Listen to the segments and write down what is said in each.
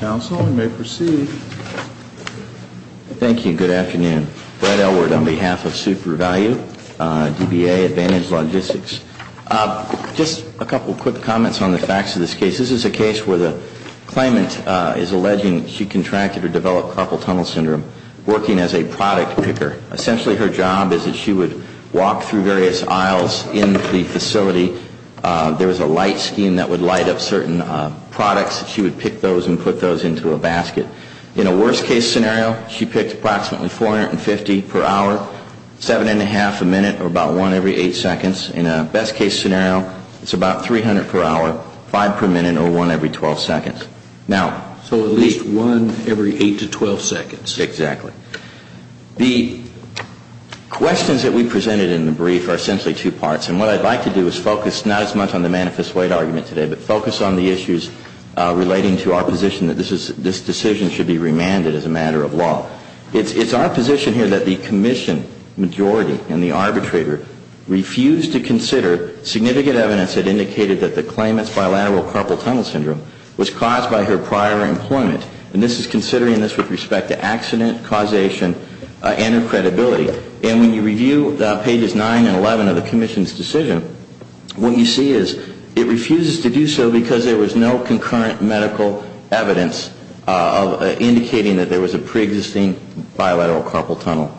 Council, we may proceed. Thank you. Good afternoon. Brett Elward on behalf of Super Value, DBA, Advantage Logistics. Just a couple quick comments on the facts of this case. This is a case where the claimant is alleging she contracted or developed carpal tunnel syndrome, working as a product picker. Essentially her job is that she would walk through various aisles in the facility. There was a light scheme that would light up certain products. She would pick those and put those into a basket. In a worst case scenario, she picked approximately 450 per hour, seven and a half a minute or about one every eight seconds. In a best case scenario, it's about 300 per hour, five per minute or one every 12 seconds. So at least one every eight to 12 seconds. Exactly. The questions that we presented in the brief are essentially two parts. And what I'd like to do is focus not as much on the manifest weight argument today, but focus on the issues relating to our position that this decision should be remanded as a matter of law. It's our position here that the commission majority and the arbitrator refused to consider significant evidence that indicated that the claimant's bilateral carpal tunnel syndrome was caused by her prior employment. And this is considering this with respect to accident causation and her credibility. And when you review pages 9 and 11 of the commission's decision, what you see is it refuses to do so because there was no concurrent medical evidence indicating that there was a preexisting bilateral carpal tunnel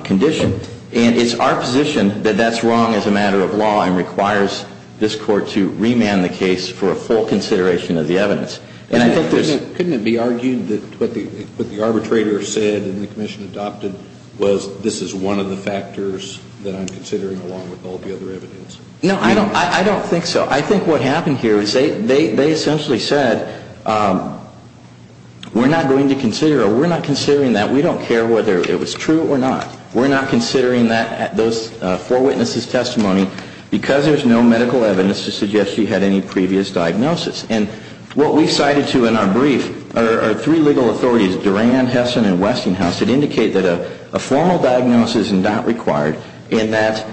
condition. And it's our position that that's wrong as a matter of law and requires this court to remand the case for a full consideration of the evidence. And I think there's... But couldn't it be argued that what the arbitrator said and the commission adopted was this is one of the factors that I'm considering along with all the other evidence? No, I don't think so. I think what happened here is they essentially said we're not going to consider or we're not considering that. We don't care whether it was true or not. We're not considering those four witnesses' testimony because there's no medical evidence to suggest she had any previous diagnosis. And what we cited to in our brief are three legal authorities, Duran, Hessen, and Westinghouse, that indicate that a formal diagnosis is not required and that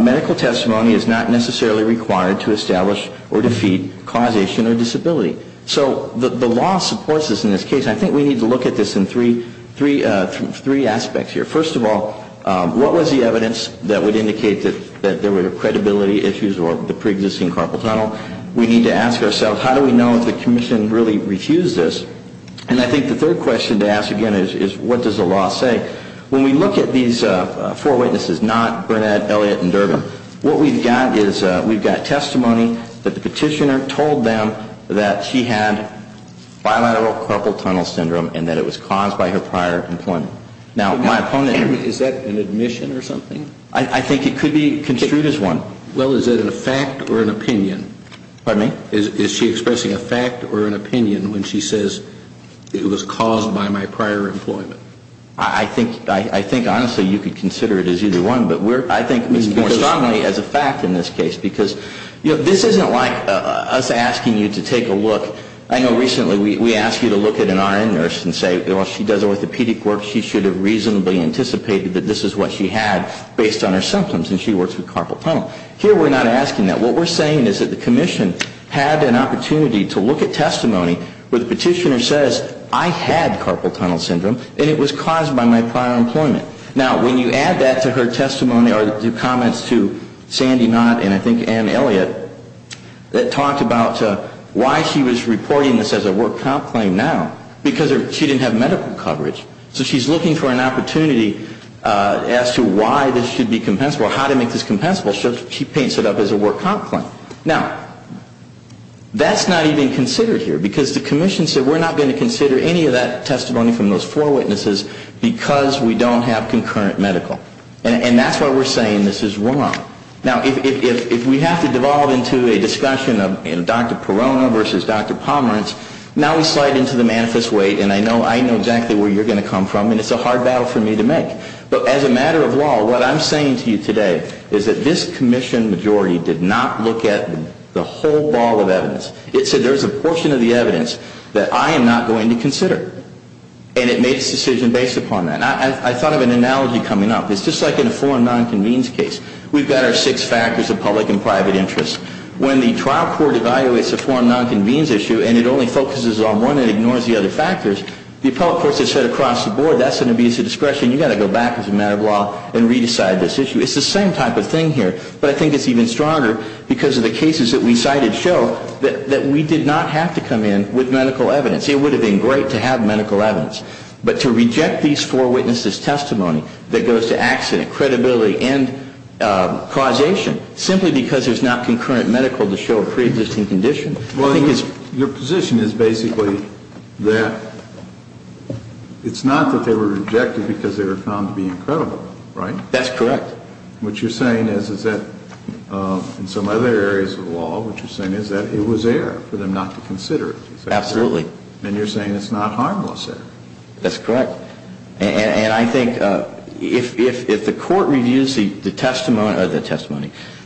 medical testimony is not necessarily required to establish or defeat causation or disability. So the law supports this in this case. I think we need to look at this in three aspects here. First of all, what was the evidence that would indicate that there were credibility issues or the preexisting carpal tunnel? We need to ask ourselves, how do we know if the commission really refused this? And I think the third question to ask again is, what does the law say? When we look at these four witnesses, Knott, Burnett, Elliott, and Durbin, what we've got is we've got testimony that the petitioner told them that she had bilateral carpal tunnel syndrome and that it was caused by her prior employment. Now, my opponent Is that an admission or something? I think it could be construed as one. Well, is it a fact or an opinion? Pardon me? Is she expressing a fact or an opinion when she says it was caused by my prior employment? I think honestly you could consider it as either one, but I think more strongly as a fact in this case because this isn't like us asking you to take a look. I know recently we asked you to look at an RN nurse and say, well, she does orthopedic work, she should have reasonably anticipated that this is what she had based on her symptoms and she works with carpal tunnel. Here we're not asking that. What we're saying is that the commission had an opportunity to look at testimony where the petitioner says, I had carpal tunnel syndrome and it was caused by my prior employment. Now, when you add that to her testimony or to comments to Sandy Knott and I think Ann Elliott that talked about why she was reporting this as a work comp claim now, because she didn't have medical coverage. So she's looking for an opportunity as to why this should be compensable, how to make this compensable, so she paints it up as a work comp claim. Now, that's not even considered here because the commission said we're not going to consider any of that testimony from those four witnesses because we don't have concurrent medical. And that's why we're saying this is wrong. Now, if we have to devolve into a discussion of Dr. Perona versus Dr. Pomerantz, now we slide into the manifest weight and I know exactly where you're going to come from and it's a hard battle for me to make. But as a matter of law, what I'm saying to you today is that this commission majority did not look at the whole ball of evidence. It said there's a portion of And it made its decision based upon that. I thought of an analogy coming up. It's just like in a foreign non-convenes case. We've got our six factors of public and private interests. When the trial court evaluates a foreign non-convenes issue and it only focuses on one and ignores the other factors, the appellate courts have said across the board that's an abuse of discretion, you've got to go back as a matter of law and re-decide this issue. It's the same type of thing here, but I think it's even stronger because of the cases that we cited show that we did not have to come in with medical evidence. It would have been great to have medical evidence, but to reject these four witnesses' testimony that goes to accident, credibility, and causation, simply because there's not concurrent medical to show a pre-existing condition, I think is... Your position is basically that it's not that they were rejected because they were found to be incredible, right? That's correct. What you're saying is that in some other areas of the law, what you're saying is that it was there for them not to consider it. Absolutely. And you're saying it's not harmless there. That's correct. And I think if the court reviews the testimony,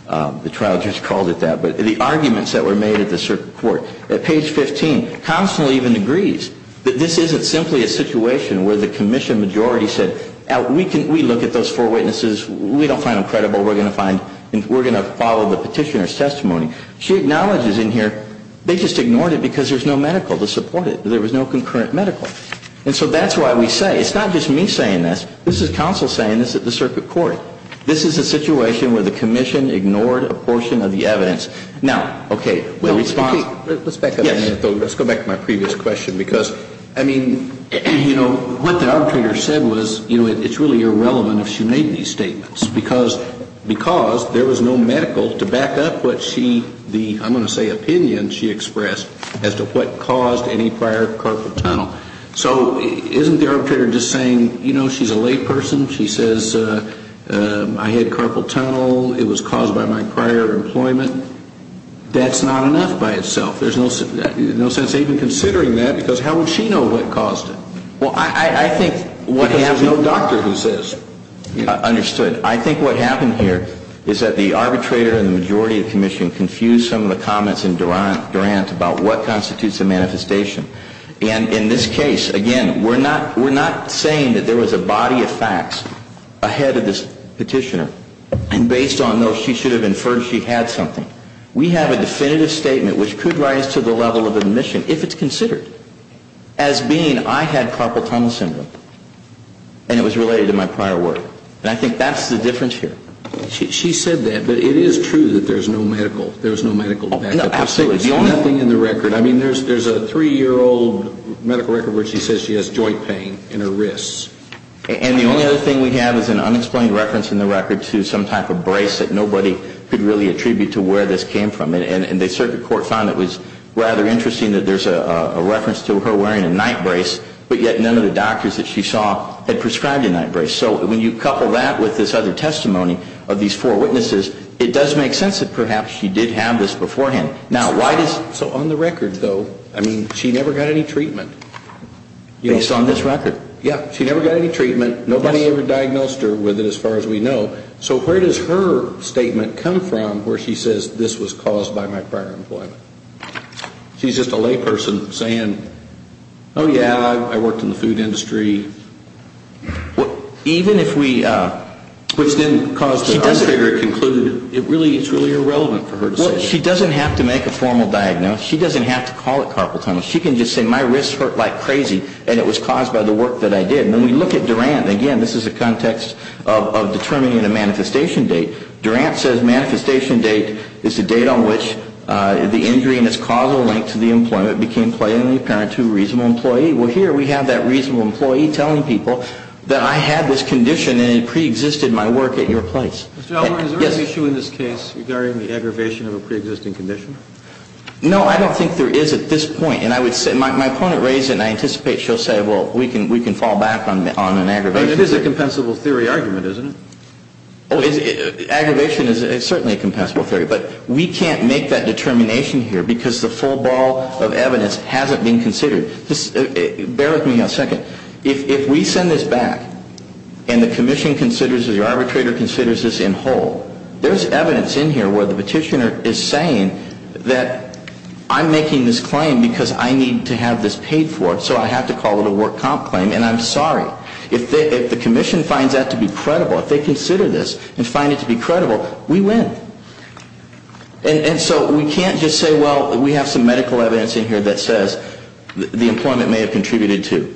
the trial just called it that, but the arguments that were made at the circuit court, at page 15, Constanze even agrees that this isn't simply a situation where the commission majority said, we look at those four witnesses, we don't find them credible, we're going to follow the petitioner's testimony. She acknowledges in here they just ignored it because there's no medical to support it. There was no concurrent medical. And so that's why we say, it's not just me saying this, this is counsel saying this at the circuit court. This is a situation where the commission ignored a portion of the evidence. Now, okay, the response... Let's go back to my previous question because, I mean, you know, what the arbitrator said was, you know, it's really irrelevant if she made these So isn't the arbitrator just saying, you know, she's a layperson, she says, I had carpal tunnel, it was caused by my prior employment. That's not enough by itself. There's no sense even considering that because how would she know what caused it? Well, I think... Because there's no doctor who says... I think what happened here is that the arbitrator and the majority of the commission confused some of the comments in Durant about what constitutes a manifestation. And in this case, again, we're not saying that there was a body of facts ahead of this petitioner, and based on those, she should have inferred she had something. We have a definitive statement which could rise to the level of admission if it's considered as being, I had carpal tunnel syndrome. And it was related to my prior work. And I think that's the difference here. She said that, but it is true that there's no medical... No, absolutely. The only thing in the record, I mean, there's a three-year-old medical record where she says she has joint pain in her wrists. And the only other thing we have is an unexplained reference in the record to some type of brace that nobody could really attribute to where this came from. And the circuit court found it was rather interesting that there's a reference to her wearing a night brace, but yet none of the doctors that she saw had prescribed a night brace. So when you couple that with this other testimony of these four witnesses, it does make sense that perhaps she did have this beforehand. Now, why does... So on the record, though, I mean, she never got any treatment. Based on this record? Yeah, she never got any treatment. Nobody ever diagnosed her with it, as far as we know. So where does her statement come from where she says this was caused by my prior employment? She's just a layperson saying, oh, yeah, I worked in the food industry. Even if we... Which then caused the arbitrator to conclude it's really irrelevant for her to say that. She doesn't have to make a formal diagnosis. She doesn't have to call it carpal tunnel. She can just say my wrists hurt like crazy and it was caused by the work that I did. When we look at Durant, again, this is a context of determining a manifestation date. Durant says manifestation date is the date on which the injury and its causal link to the employment became plainly apparent to a reasonable employee. Well, here we have that reasonable employee telling people that I had this condition and it preexisted my work at your place. Mr. Elgort, is there an issue in this case regarding the aggravation of a preexisting condition? No, I don't think there is at this point. My opponent raised it and I anticipate she'll say, well, we can fall back on an aggravation. It is a compensable theory argument, isn't it? Aggravation is certainly a compensable theory. But we can't make that determination here because the full ball of evidence hasn't been considered. Bear with me a second. If we send this back and the commission considers or the arbitrator considers this in whole, there's evidence in here where the petitioner is saying that I'm making this claim because I need to have this paid for, so I have to call it a work comp claim and I'm sorry. If the commission finds that to be credible, if they consider this and find it to be credible, we win. And so we can't just say, well, we have some medical evidence in here that says the employment may have contributed to.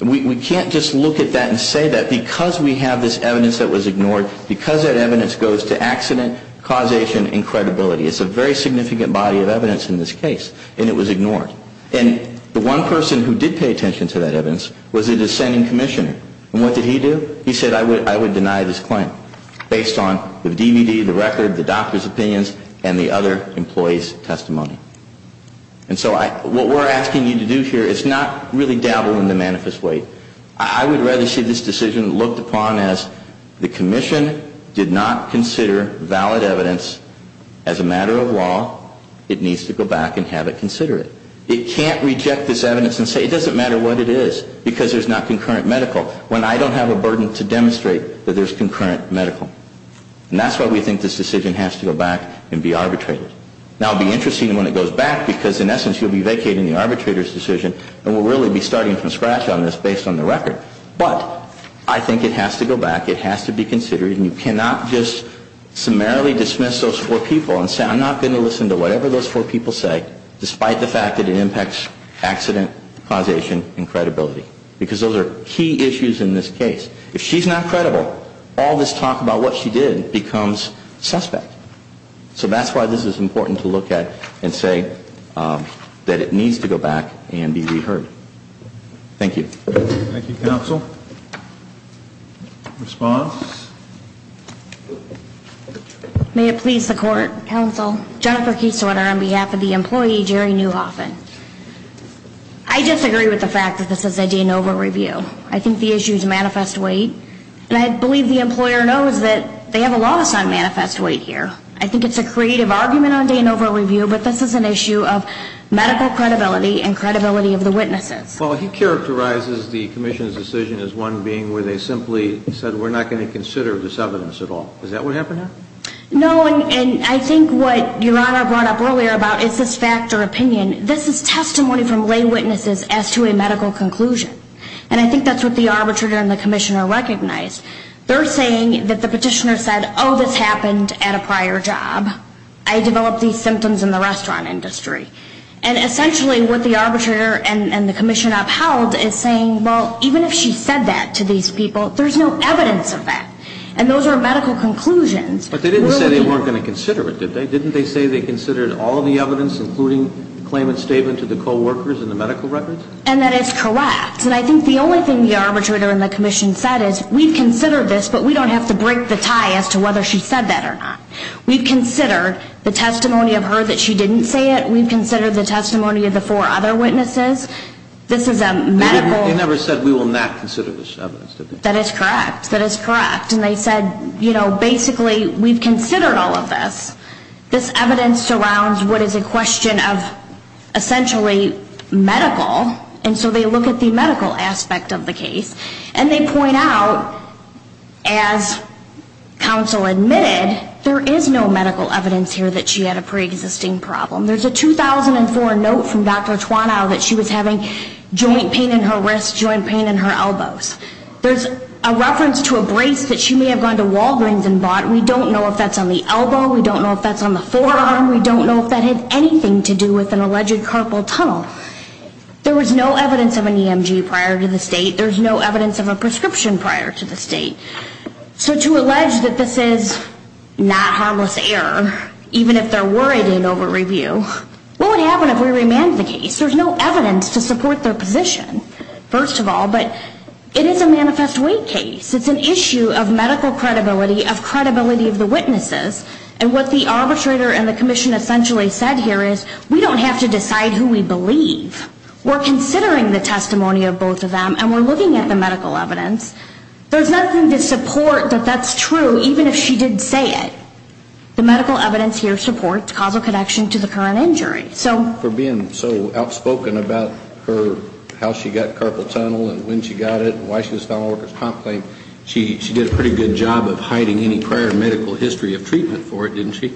We can't just look at that and say that because we have this evidence that was ignored, because that evidence goes to accident, causation, and credibility. It's a very significant body of evidence in this case and it was ignored. And the one person who did pay attention to that evidence was the dissenting commissioner. And what did he do? He said I would deny this claim based on the DVD, the record, the doctor's opinions, and the other employee's testimony. And so what we're asking you to do here is not really dabble in the manifest way. I would rather see this decision looked upon as the commission did not consider valid evidence as a matter of law. It needs to go back and have it considered. It can't reject this evidence and say it doesn't matter what it is because there's not concurrent medical when I don't have a burden to demonstrate that there's concurrent medical. And that's why we think this decision has to go back and be arbitrated. Now it will be interesting when it goes back because in essence you'll be vacating the arbitrator's decision and we'll really be starting from scratch on this based on the record. But I think it has to go back, it has to be considered, and you cannot just summarily dismiss those four people and say I'm not going to listen to whatever those four people say despite the fact that it impacts accident, causation, and credibility. Because those are key issues in this case. If she's not credible, all this talk about what she did becomes suspect. So that's why this is important to look at and say that it needs to go back and be reheard. Thank you. Thank you, counsel. Response? May it please the court, counsel. Jennifer Kieselwetter on behalf of the employee, Jerry Newhoffen. I disagree with the fact that this is a de novo review. I think the issue is manifest weight. And I believe the employer knows that they have a loss on manifest weight here. I think it's a creative argument on de novo review, but this is an issue of medical credibility and credibility of the witnesses. Well, he characterizes the commission's decision as one being where they simply said we're not going to consider this evidence at all. Is that what happened? No, and I think what Your Honor brought up earlier about is this fact or opinion, this is testimony from lay witnesses as to a medical conclusion. And I think that's what the arbitrator and the commissioner recognized. They're saying that the petitioner said, oh, this happened at a prior job. I developed these symptoms in the restaurant industry. And essentially what the arbitrator and the commissioner upheld is saying, well, even if she said that to these people, there's no evidence of that. And those are medical conclusions. But they didn't say they weren't going to consider it, did they? Didn't they say they considered all of the evidence, including the claimant's statement to the coworkers and the medical records? And that is correct. And I think the only thing the arbitrator and the commission said is we've considered this, but we don't have to break the tie as to whether she said that or not. We've considered the testimony of her that she didn't say it. We've considered the testimony of the four other witnesses. This is a medical ---- They never said we will not consider this evidence, did they? That is correct. That is correct. And they said, you know, basically we've considered all of this. This evidence surrounds what is a question of essentially medical. And so they look at the medical aspect of the case. And they point out, as counsel admitted, there is no medical evidence here that she had a preexisting problem. There's a 2004 note from Dr. Twanow that she was having joint pain in her wrists, joint pain in her elbows. There's a reference to a brace that she may have gone to Walgreens and bought. We don't know if that's on the elbow. We don't know if that's on the forearm. We don't know if that had anything to do with an alleged carpal tunnel. There was no evidence of an EMG prior to this date. There's no evidence of a prescription prior to this date. So to allege that this is not harmless error, even if they're worried in over-review, what would happen if we remanded the case? There's no evidence to support their position, first of all. But it is a manifest weight case. It's an issue of medical credibility, of credibility of the witnesses. And what the arbitrator and the commission essentially said here is, we don't have to decide who we believe. We're considering the testimony of both of them, and we're looking at the medical evidence. There's nothing to support that that's true, even if she did say it. The medical evidence here supports causal connection to the current injury. For being so outspoken about how she got carpal tunnel and when she got it and why she was found on workers' comp claim, she did a pretty good job of hiding any prior medical history of treatment for it, didn't she?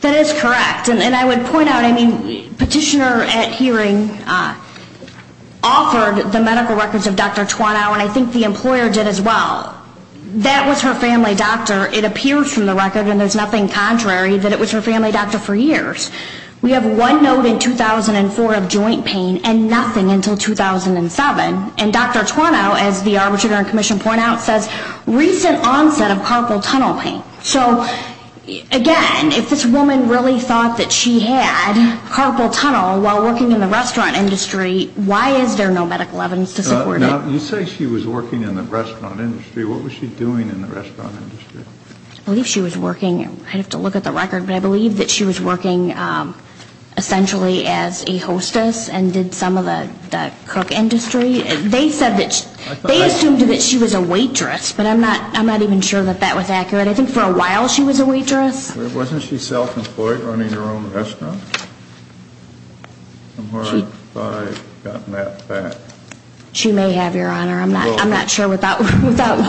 That is correct. And I would point out, I mean, Petitioner at hearing offered the medical records of Dr. Twanow, and I think the employer did as well. That was her family doctor. It appears from the record, and there's nothing contrary, that it was her family doctor for years. We have one note in 2004 of joint pain and nothing until 2007. And Dr. Twanow, as the arbitrator and commission point out, says, recent onset of carpal tunnel pain. So, again, if this woman really thought that she had carpal tunnel while working in the restaurant industry, why is there no medical evidence to support it? Now, you say she was working in the restaurant industry. What was she doing in the restaurant industry? I believe she was working, I'd have to look at the record, but I believe that she was working essentially as a hostess and did some of the cook industry. They said that she, they assumed that she was a waitress, but I'm not even sure that that was accurate. I think for a while she was a waitress. Wasn't she self-employed, running her own restaurant? She may have, Your Honor. I'm not sure without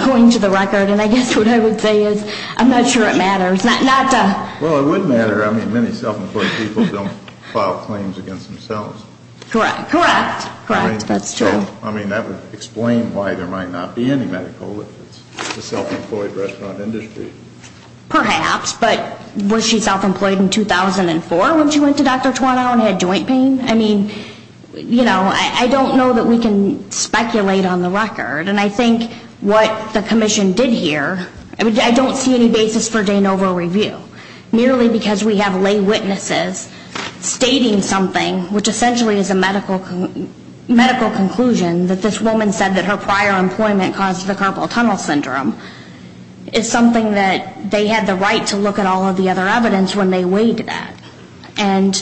going to the record. And I guess what I would say is I'm not sure it matters. Well, it would matter. I mean, many self-employed people don't file claims against themselves. Correct. Correct. Correct. That's true. I mean, that would explain why there might not be any medical evidence in the self-employed restaurant industry. Perhaps. But was she self-employed in 2004 when she went to Dr. Twanow and had joint pain? I mean, you know, I don't know that we can speculate on the record. And I think what the commission did here, I don't see any basis for de novo review. Merely because we have lay witnesses stating something which essentially is a medical conclusion that this woman said that her prior employment caused the carpal tunnel syndrome is something that they had the right to look at all of the other evidence when they weighed that. And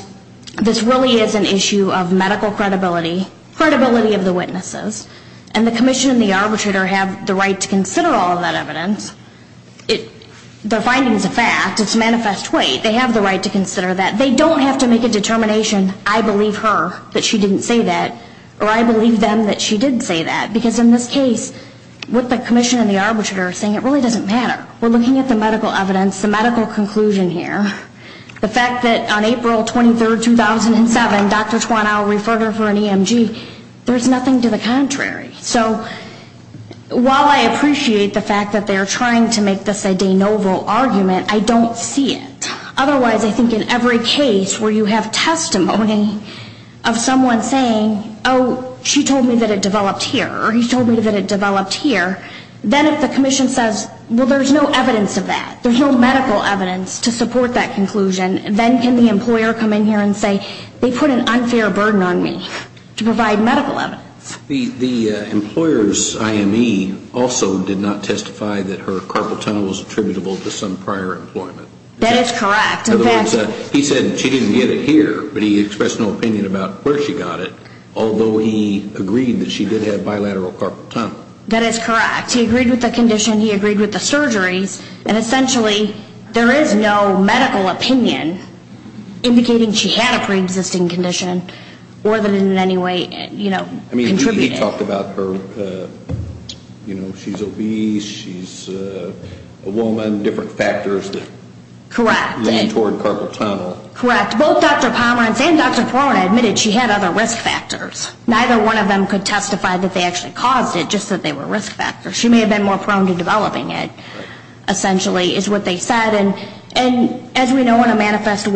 this really is an issue of medical credibility, credibility of the witnesses. And the commission and the arbitrator have the right to consider all of that evidence. The finding is a fact. It's manifest weight. They have the right to consider that. They don't have to make a determination, I believe her that she didn't say that, or I believe them that she did say that. Because in this case, with the commission and the arbitrator saying it really doesn't matter, we're looking at the medical evidence, the medical conclusion here, the fact that on April 23, 2007, Dr. Twanow referred her for an EMG, there's nothing to the contrary. So while I appreciate the fact that they're trying to make this a de novo argument, I don't see it. Otherwise, I think in every case where you have testimony of someone saying, oh, she told me that it developed here, or he told me that it developed here, then if the commission says, well, there's no evidence of that, there's no medical evidence to support that conclusion, then can the employer come in here and say, they put an unfair burden on me to provide medical evidence. The employer's IME also did not testify that her carpal tunnel was attributable to some prior employment. That is correct. In fact, he said she didn't get it here, but he expressed no opinion about where she got it, although he agreed that she did have bilateral carpal tunnel. That is correct. He agreed with the condition. He agreed with the surgeries. And essentially, there is no medical opinion indicating she had a preexisting condition more than in any way, you know, contributed. I mean, he talked about her, you know, she's obese, she's a woman, different factors that lean toward carpal tunnel. Correct. Both Dr. Pomerantz and Dr. Flora admitted she had other risk factors. Neither one of them could testify that they actually caused it, just that they were risk factors. She may have been more prone to developing it, essentially, is what they said. And as we know, on a manifest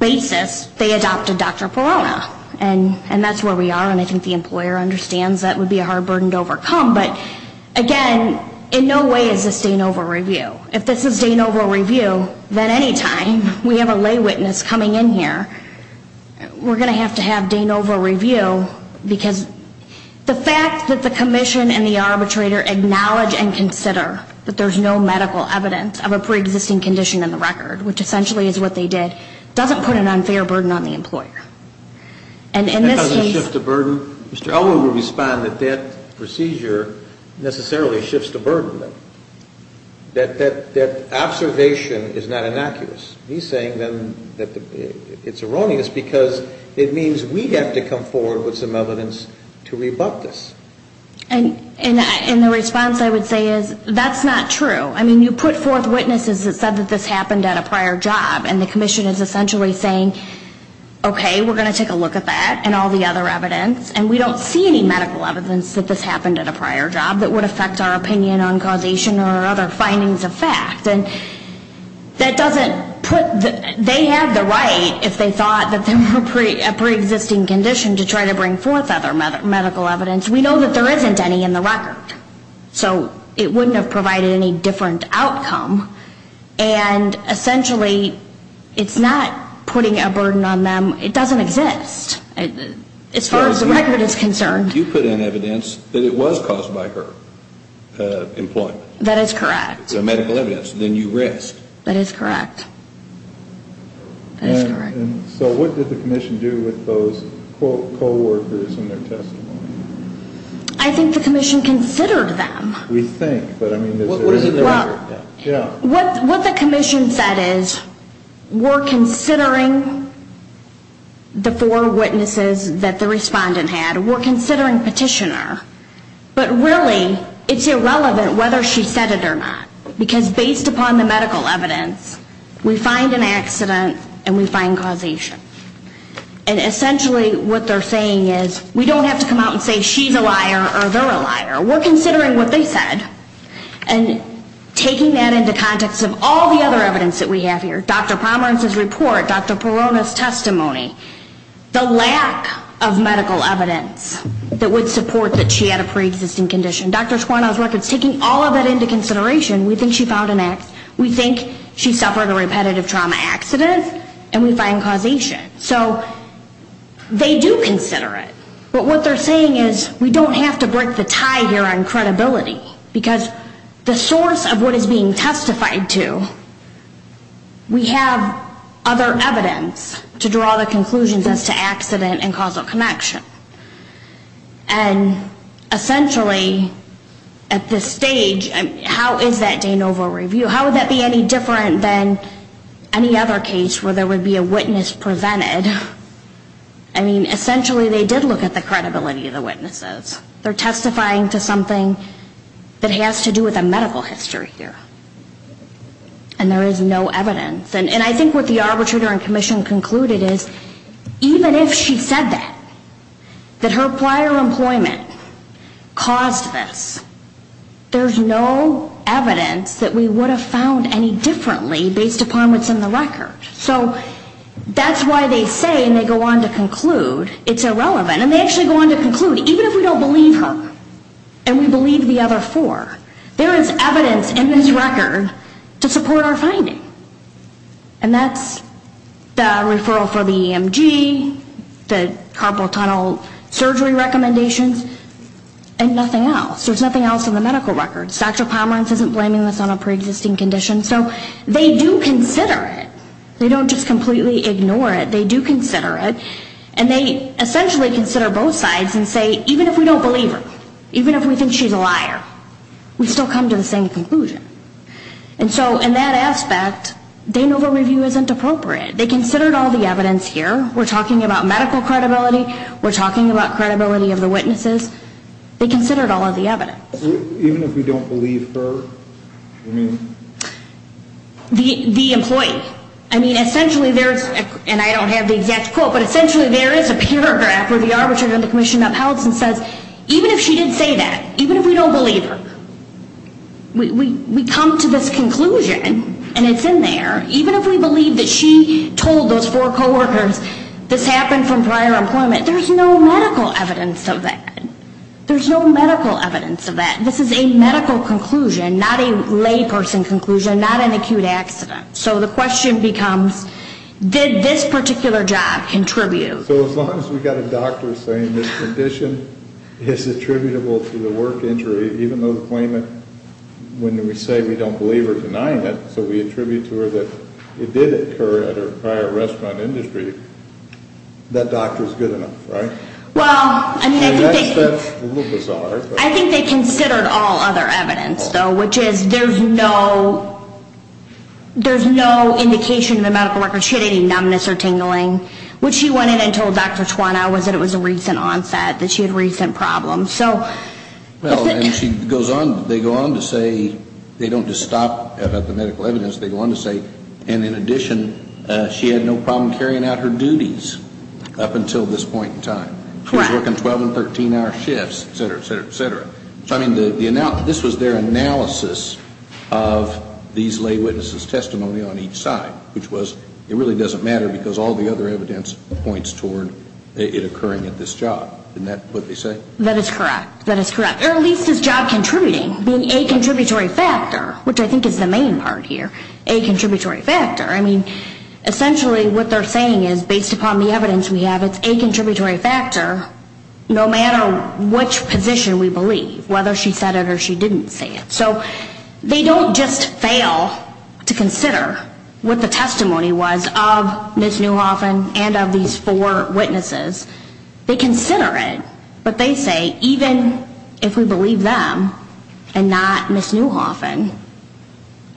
basis, they adopted Dr. Perona. And that's where we are, and I think the employer understands that would be a hard burden to overcome. But, again, in no way is this Danova review. If this is Danova review, then any time we have a lay witness coming in here, we're going to have to have Danova review because the fact that the commission and the arbitrator acknowledge and consider that there's no medical evidence of a preexisting condition in the record, which essentially is what they did, doesn't put an unfair burden on the employer. And in this case Mr. Elwood will respond that that procedure necessarily shifts the burden. That observation is not innocuous. He's saying then that it's erroneous because it means we have to come forward with some evidence to rebut this. And the response I would say is that's not true. I mean, you put forth witnesses that said that this happened at a prior job, and the commission is essentially saying, okay, we're going to take a look at that and all the other evidence, and we don't see any medical evidence that this happened at a prior job that would affect our opinion on causation or other findings of fact. And that doesn't put the they have the right, if they thought that there were a preexisting condition, to try to bring forth other medical evidence. We know that there isn't any in the record. So it wouldn't have provided any different outcome. And essentially it's not putting a burden on them. It doesn't exist as far as the record is concerned. You put in evidence that it was caused by her employment. That is correct. So medical evidence. Then you rest. That is correct. So what did the commission do with those co-workers and their testimony? I think the commission considered them. We think. What the commission said is we're considering the four witnesses that the respondent had. We're considering petitioner. But really it's irrelevant whether she said it or not. Because based upon the medical evidence, we find an accident and we find causation. And essentially what they're saying is we don't have to come out and say she's a liar or they're a liar. We're considering what they said and taking that into context of all the other evidence that we have here, Dr. Pomerantz's report, Dr. Perrona's testimony, the lack of medical evidence that would support that she had a pre-existing condition, Dr. Squannell's records, taking all of that into consideration, we think she filed an act. We think she suffered a repetitive trauma accident and we find causation. So they do consider it. But what they're saying is we don't have to break the tie here on credibility. Because the source of what is being testified to, we have other evidence to draw the conclusions as to accident and causal connection. And essentially at this stage, how is that de novo review? How would that be any different than any other case where there would be a witness presented? I mean, essentially they did look at the credibility of the witnesses. They're testifying to something that has to do with a medical history here. And there is no evidence. And I think what the arbitrator and commission concluded is even if she said that, that her prior employment caused this, there's no evidence that we would have found any differently based upon what's in the record. So that's why they say and they go on to conclude it's irrelevant. And they actually go on to conclude even if we don't believe her and we believe the other four, there is evidence in this record to support our finding. And that's the referral for the EMG, the carpal tunnel surgery recommendations, and nothing else. There's nothing else in the medical record. Dr. Pomerantz isn't blaming this on a preexisting condition. So they do consider it. They don't just completely ignore it. They do consider it and they essentially consider both sides and say even if we don't believe her, even if we think she's a liar, we still come to the same conclusion. And so in that aspect, de novo review isn't appropriate. They considered all the evidence here. We're talking about medical credibility. We're talking about credibility of the witnesses. They considered all of the evidence. Even if we don't believe her? The employee. And I don't have the exact quote, but essentially there is a paragraph where the arbitrator in the commission uphelds and says even if she didn't say that, even if we don't believe her, we come to this conclusion. And it's in there. Even if we believe that she told those four coworkers this happened from prior employment, there's no medical evidence of that. There's no medical evidence of that. This is a medical conclusion, not a layperson conclusion, not an acute accident. So the question becomes did this particular job contribute? So as long as we've got a doctor saying this condition is attributable to the work injury, even though the claimant, when we say we don't believe her denying it, so we attribute to her that it did occur at her prior restaurant industry, that doctor is good enough, right? And that's a little bizarre. I think they considered all other evidence, though, which is there's no indication in the medical record she had any numbness or tingling. What she went in and told Dr. Twana was that it was a recent onset, that she had recent problems. Well, and she goes on, they go on to say they don't just stop at the medical evidence, they go on to say, and in addition, she had no problem carrying out her duties up until this point in time. Correct. She was working 12 and 13-hour shifts, et cetera, et cetera, et cetera. This was their analysis of these lay witnesses' testimony on each side, which was it really doesn't matter because all the other evidence points toward it occurring at this job. Isn't that what they say? That is correct, that is correct, or at least it's job contributing, being a contributory factor, which I think is the main part here, a contributory factor. I mean, essentially what they're saying is based upon the evidence we have, it's a contributory factor no matter which position we believe, whether she said it or she didn't say it. So they don't just fail to consider what the testimony was of Ms. Newhoff and of these four witnesses. They consider it, but they say even if we believe them and not Ms. Newhoff and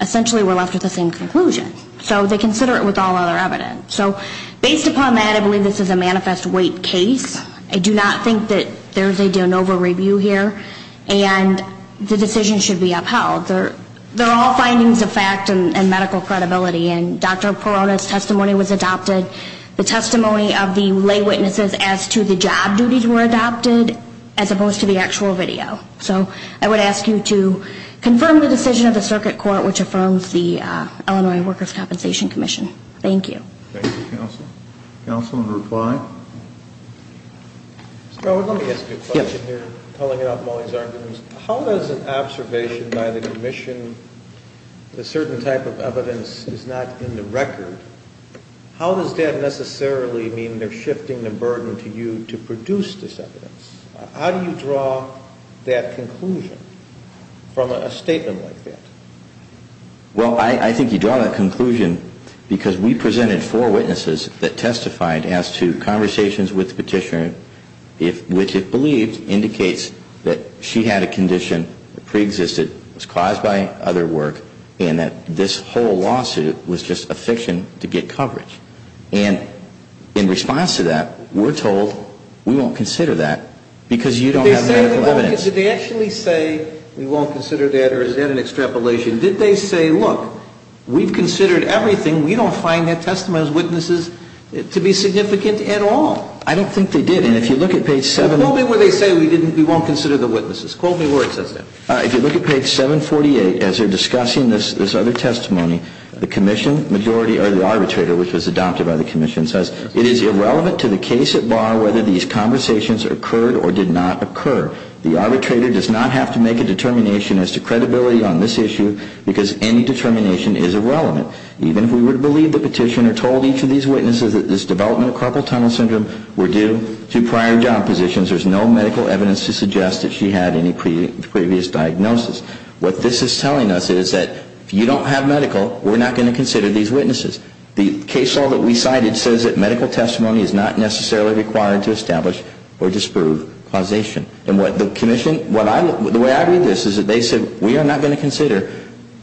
essentially we're left with the same conclusion. So they consider it with all other evidence. So based upon that, I believe this is a manifest weight case. I do not think that there's a de novo review here, and the decision should be upheld. They're all findings of fact and medical credibility, and Dr. Perone's testimony was adopted. The testimony of the lay witnesses as to the job duties were adopted, as opposed to the actual video. So I would ask you to confirm the decision of the circuit court, which affirms the Illinois Workers' Compensation Commission. Thank you. Thank you, counsel. Counsel in reply? Mr. Howard, let me ask you a question here, pulling out Molly's arguments. How does an observation by the commission, a certain type of evidence is not in the record, how does that necessarily mean they're shifting the burden to you to produce this evidence? How do you draw that conclusion from a statement like that? Well, I think you draw that conclusion because we presented four witnesses that testified as to conversations with the petitioner, which it believes indicates that she had a condition that preexisted, was caused by other work, and that this whole lawsuit was just a fiction to get coverage. And in response to that, we're told we won't consider that because you don't have medical evidence. Did they actually say we won't consider that, or is that an extrapolation? Did they say, look, we've considered everything, we don't find that testimony of witnesses to be significant at all? I don't think they did. And if you look at page 7. Tell me where they say we won't consider the witnesses. Quote me where it says that. If you look at page 748, as they're discussing this other testimony, the commission majority or the arbitrator, which was adopted by the commission, says it is irrelevant to the case at bar whether these conversations occurred or did not occur. The arbitrator does not have to make a determination as to credibility on this issue because any determination is irrelevant. Even if we were to believe the petitioner told each of these witnesses that this development of carpal tunnel syndrome were due to prior job positions, there's no medical evidence to suggest that she had any previous diagnosis. What this is telling us is that if you don't have medical, we're not going to consider these witnesses. The case law that we cited says that medical testimony is not necessarily required to establish or disprove causation. And the way I read this is that they said we are not going to consider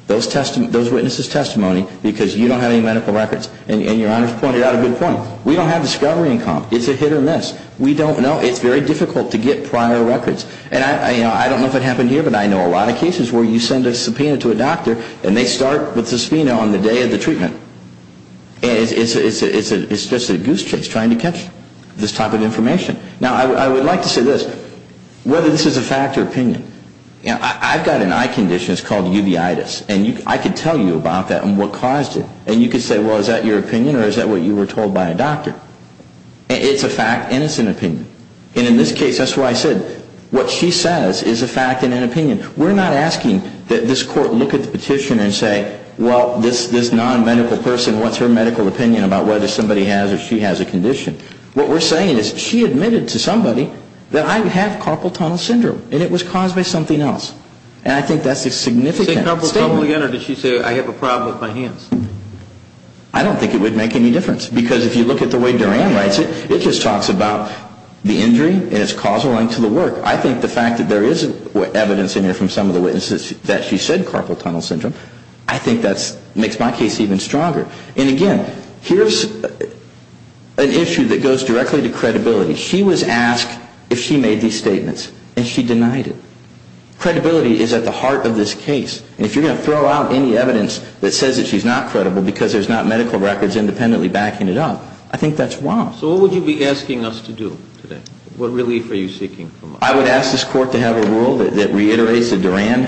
those witnesses' testimony because you don't have any medical records. And your Honor's pointed out a good point. We don't have discovery income. It's a hit or miss. We don't know. It's very difficult to get prior records. And I don't know if it happened here, but I know a lot of cases where you send a subpoena to a doctor and they start with the subpoena on the day of the treatment. And it's just a goose chase trying to catch this type of information. Now, I would like to say this. Whether this is a fact or opinion, I've got an eye condition. It's called uveitis. And I could tell you about that and what caused it. And you could say, well, is that your opinion or is that what you were told by a doctor? It's a fact and it's an opinion. And in this case, that's why I said what she says is a fact and an opinion. We're not asking that this court look at the petition and say, well, this nonmedical person, what's her medical opinion about whether somebody has or she has a condition? What we're saying is she admitted to somebody that I have carpal tunnel syndrome and it was caused by something else. And I think that's a significant statement. Did she say that again or did she say I have a problem with my hands? I don't think it would make any difference. Because if you look at the way Duran writes it, it just talks about the injury and it's causal and to the work. I think the fact that there is evidence in here from some of the witnesses that she said carpal tunnel syndrome, I think that makes my case even stronger. And, again, here's an issue that goes directly to credibility. She was asked if she made these statements and she denied it. Credibility is at the heart of this case. And if you're going to throw out any evidence that says that she's not credible because there's not medical records independently backing it up, I think that's wrong. So what would you be asking us to do today? What relief are you seeking from us? I would ask this court to have a rule that reiterates the Duran,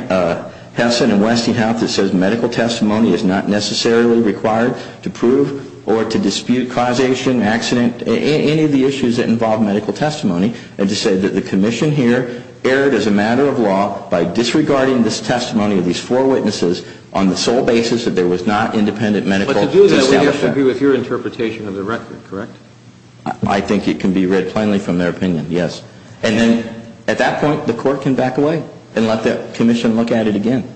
Henson, and Westinghouse that says medical testimony is not necessarily required to prove or to dispute causation, accident, any of the issues that involve medical testimony, and to say that the commission here erred as a matter of law by disregarding this testimony of these four witnesses on the sole basis that there was not independent medical establishment. But to do that would have to be with your interpretation of the record, correct? I think it can be read plainly from their opinion, yes. And then, at that point, the court can back away and let the commission look at it again.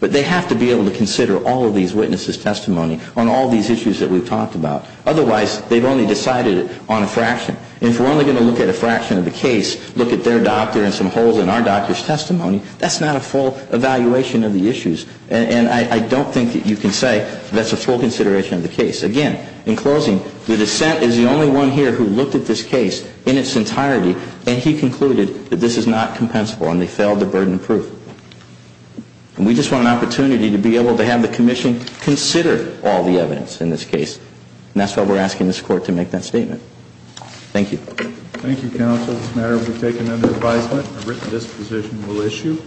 But they have to be able to consider all of these witnesses' testimony on all these issues that we've talked about. Otherwise, they've only decided it on a fraction. If we're only going to look at a fraction of the case, look at their doctor and some holes in our doctor's testimony, that's not a full evaluation of the issues. And I don't think that you can say that's a full consideration of the case. Again, in closing, the dissent is the only one here who looked at this case in its entirety and he concluded that this is not compensable and they failed to burden proof. And we just want an opportunity to be able to have the commission consider all the evidence in this case. And that's why we're asking this court to make that statement. Thank you. Thank you, counsel. It's a matter to be taken under advisement. I've written this position. We'll issue.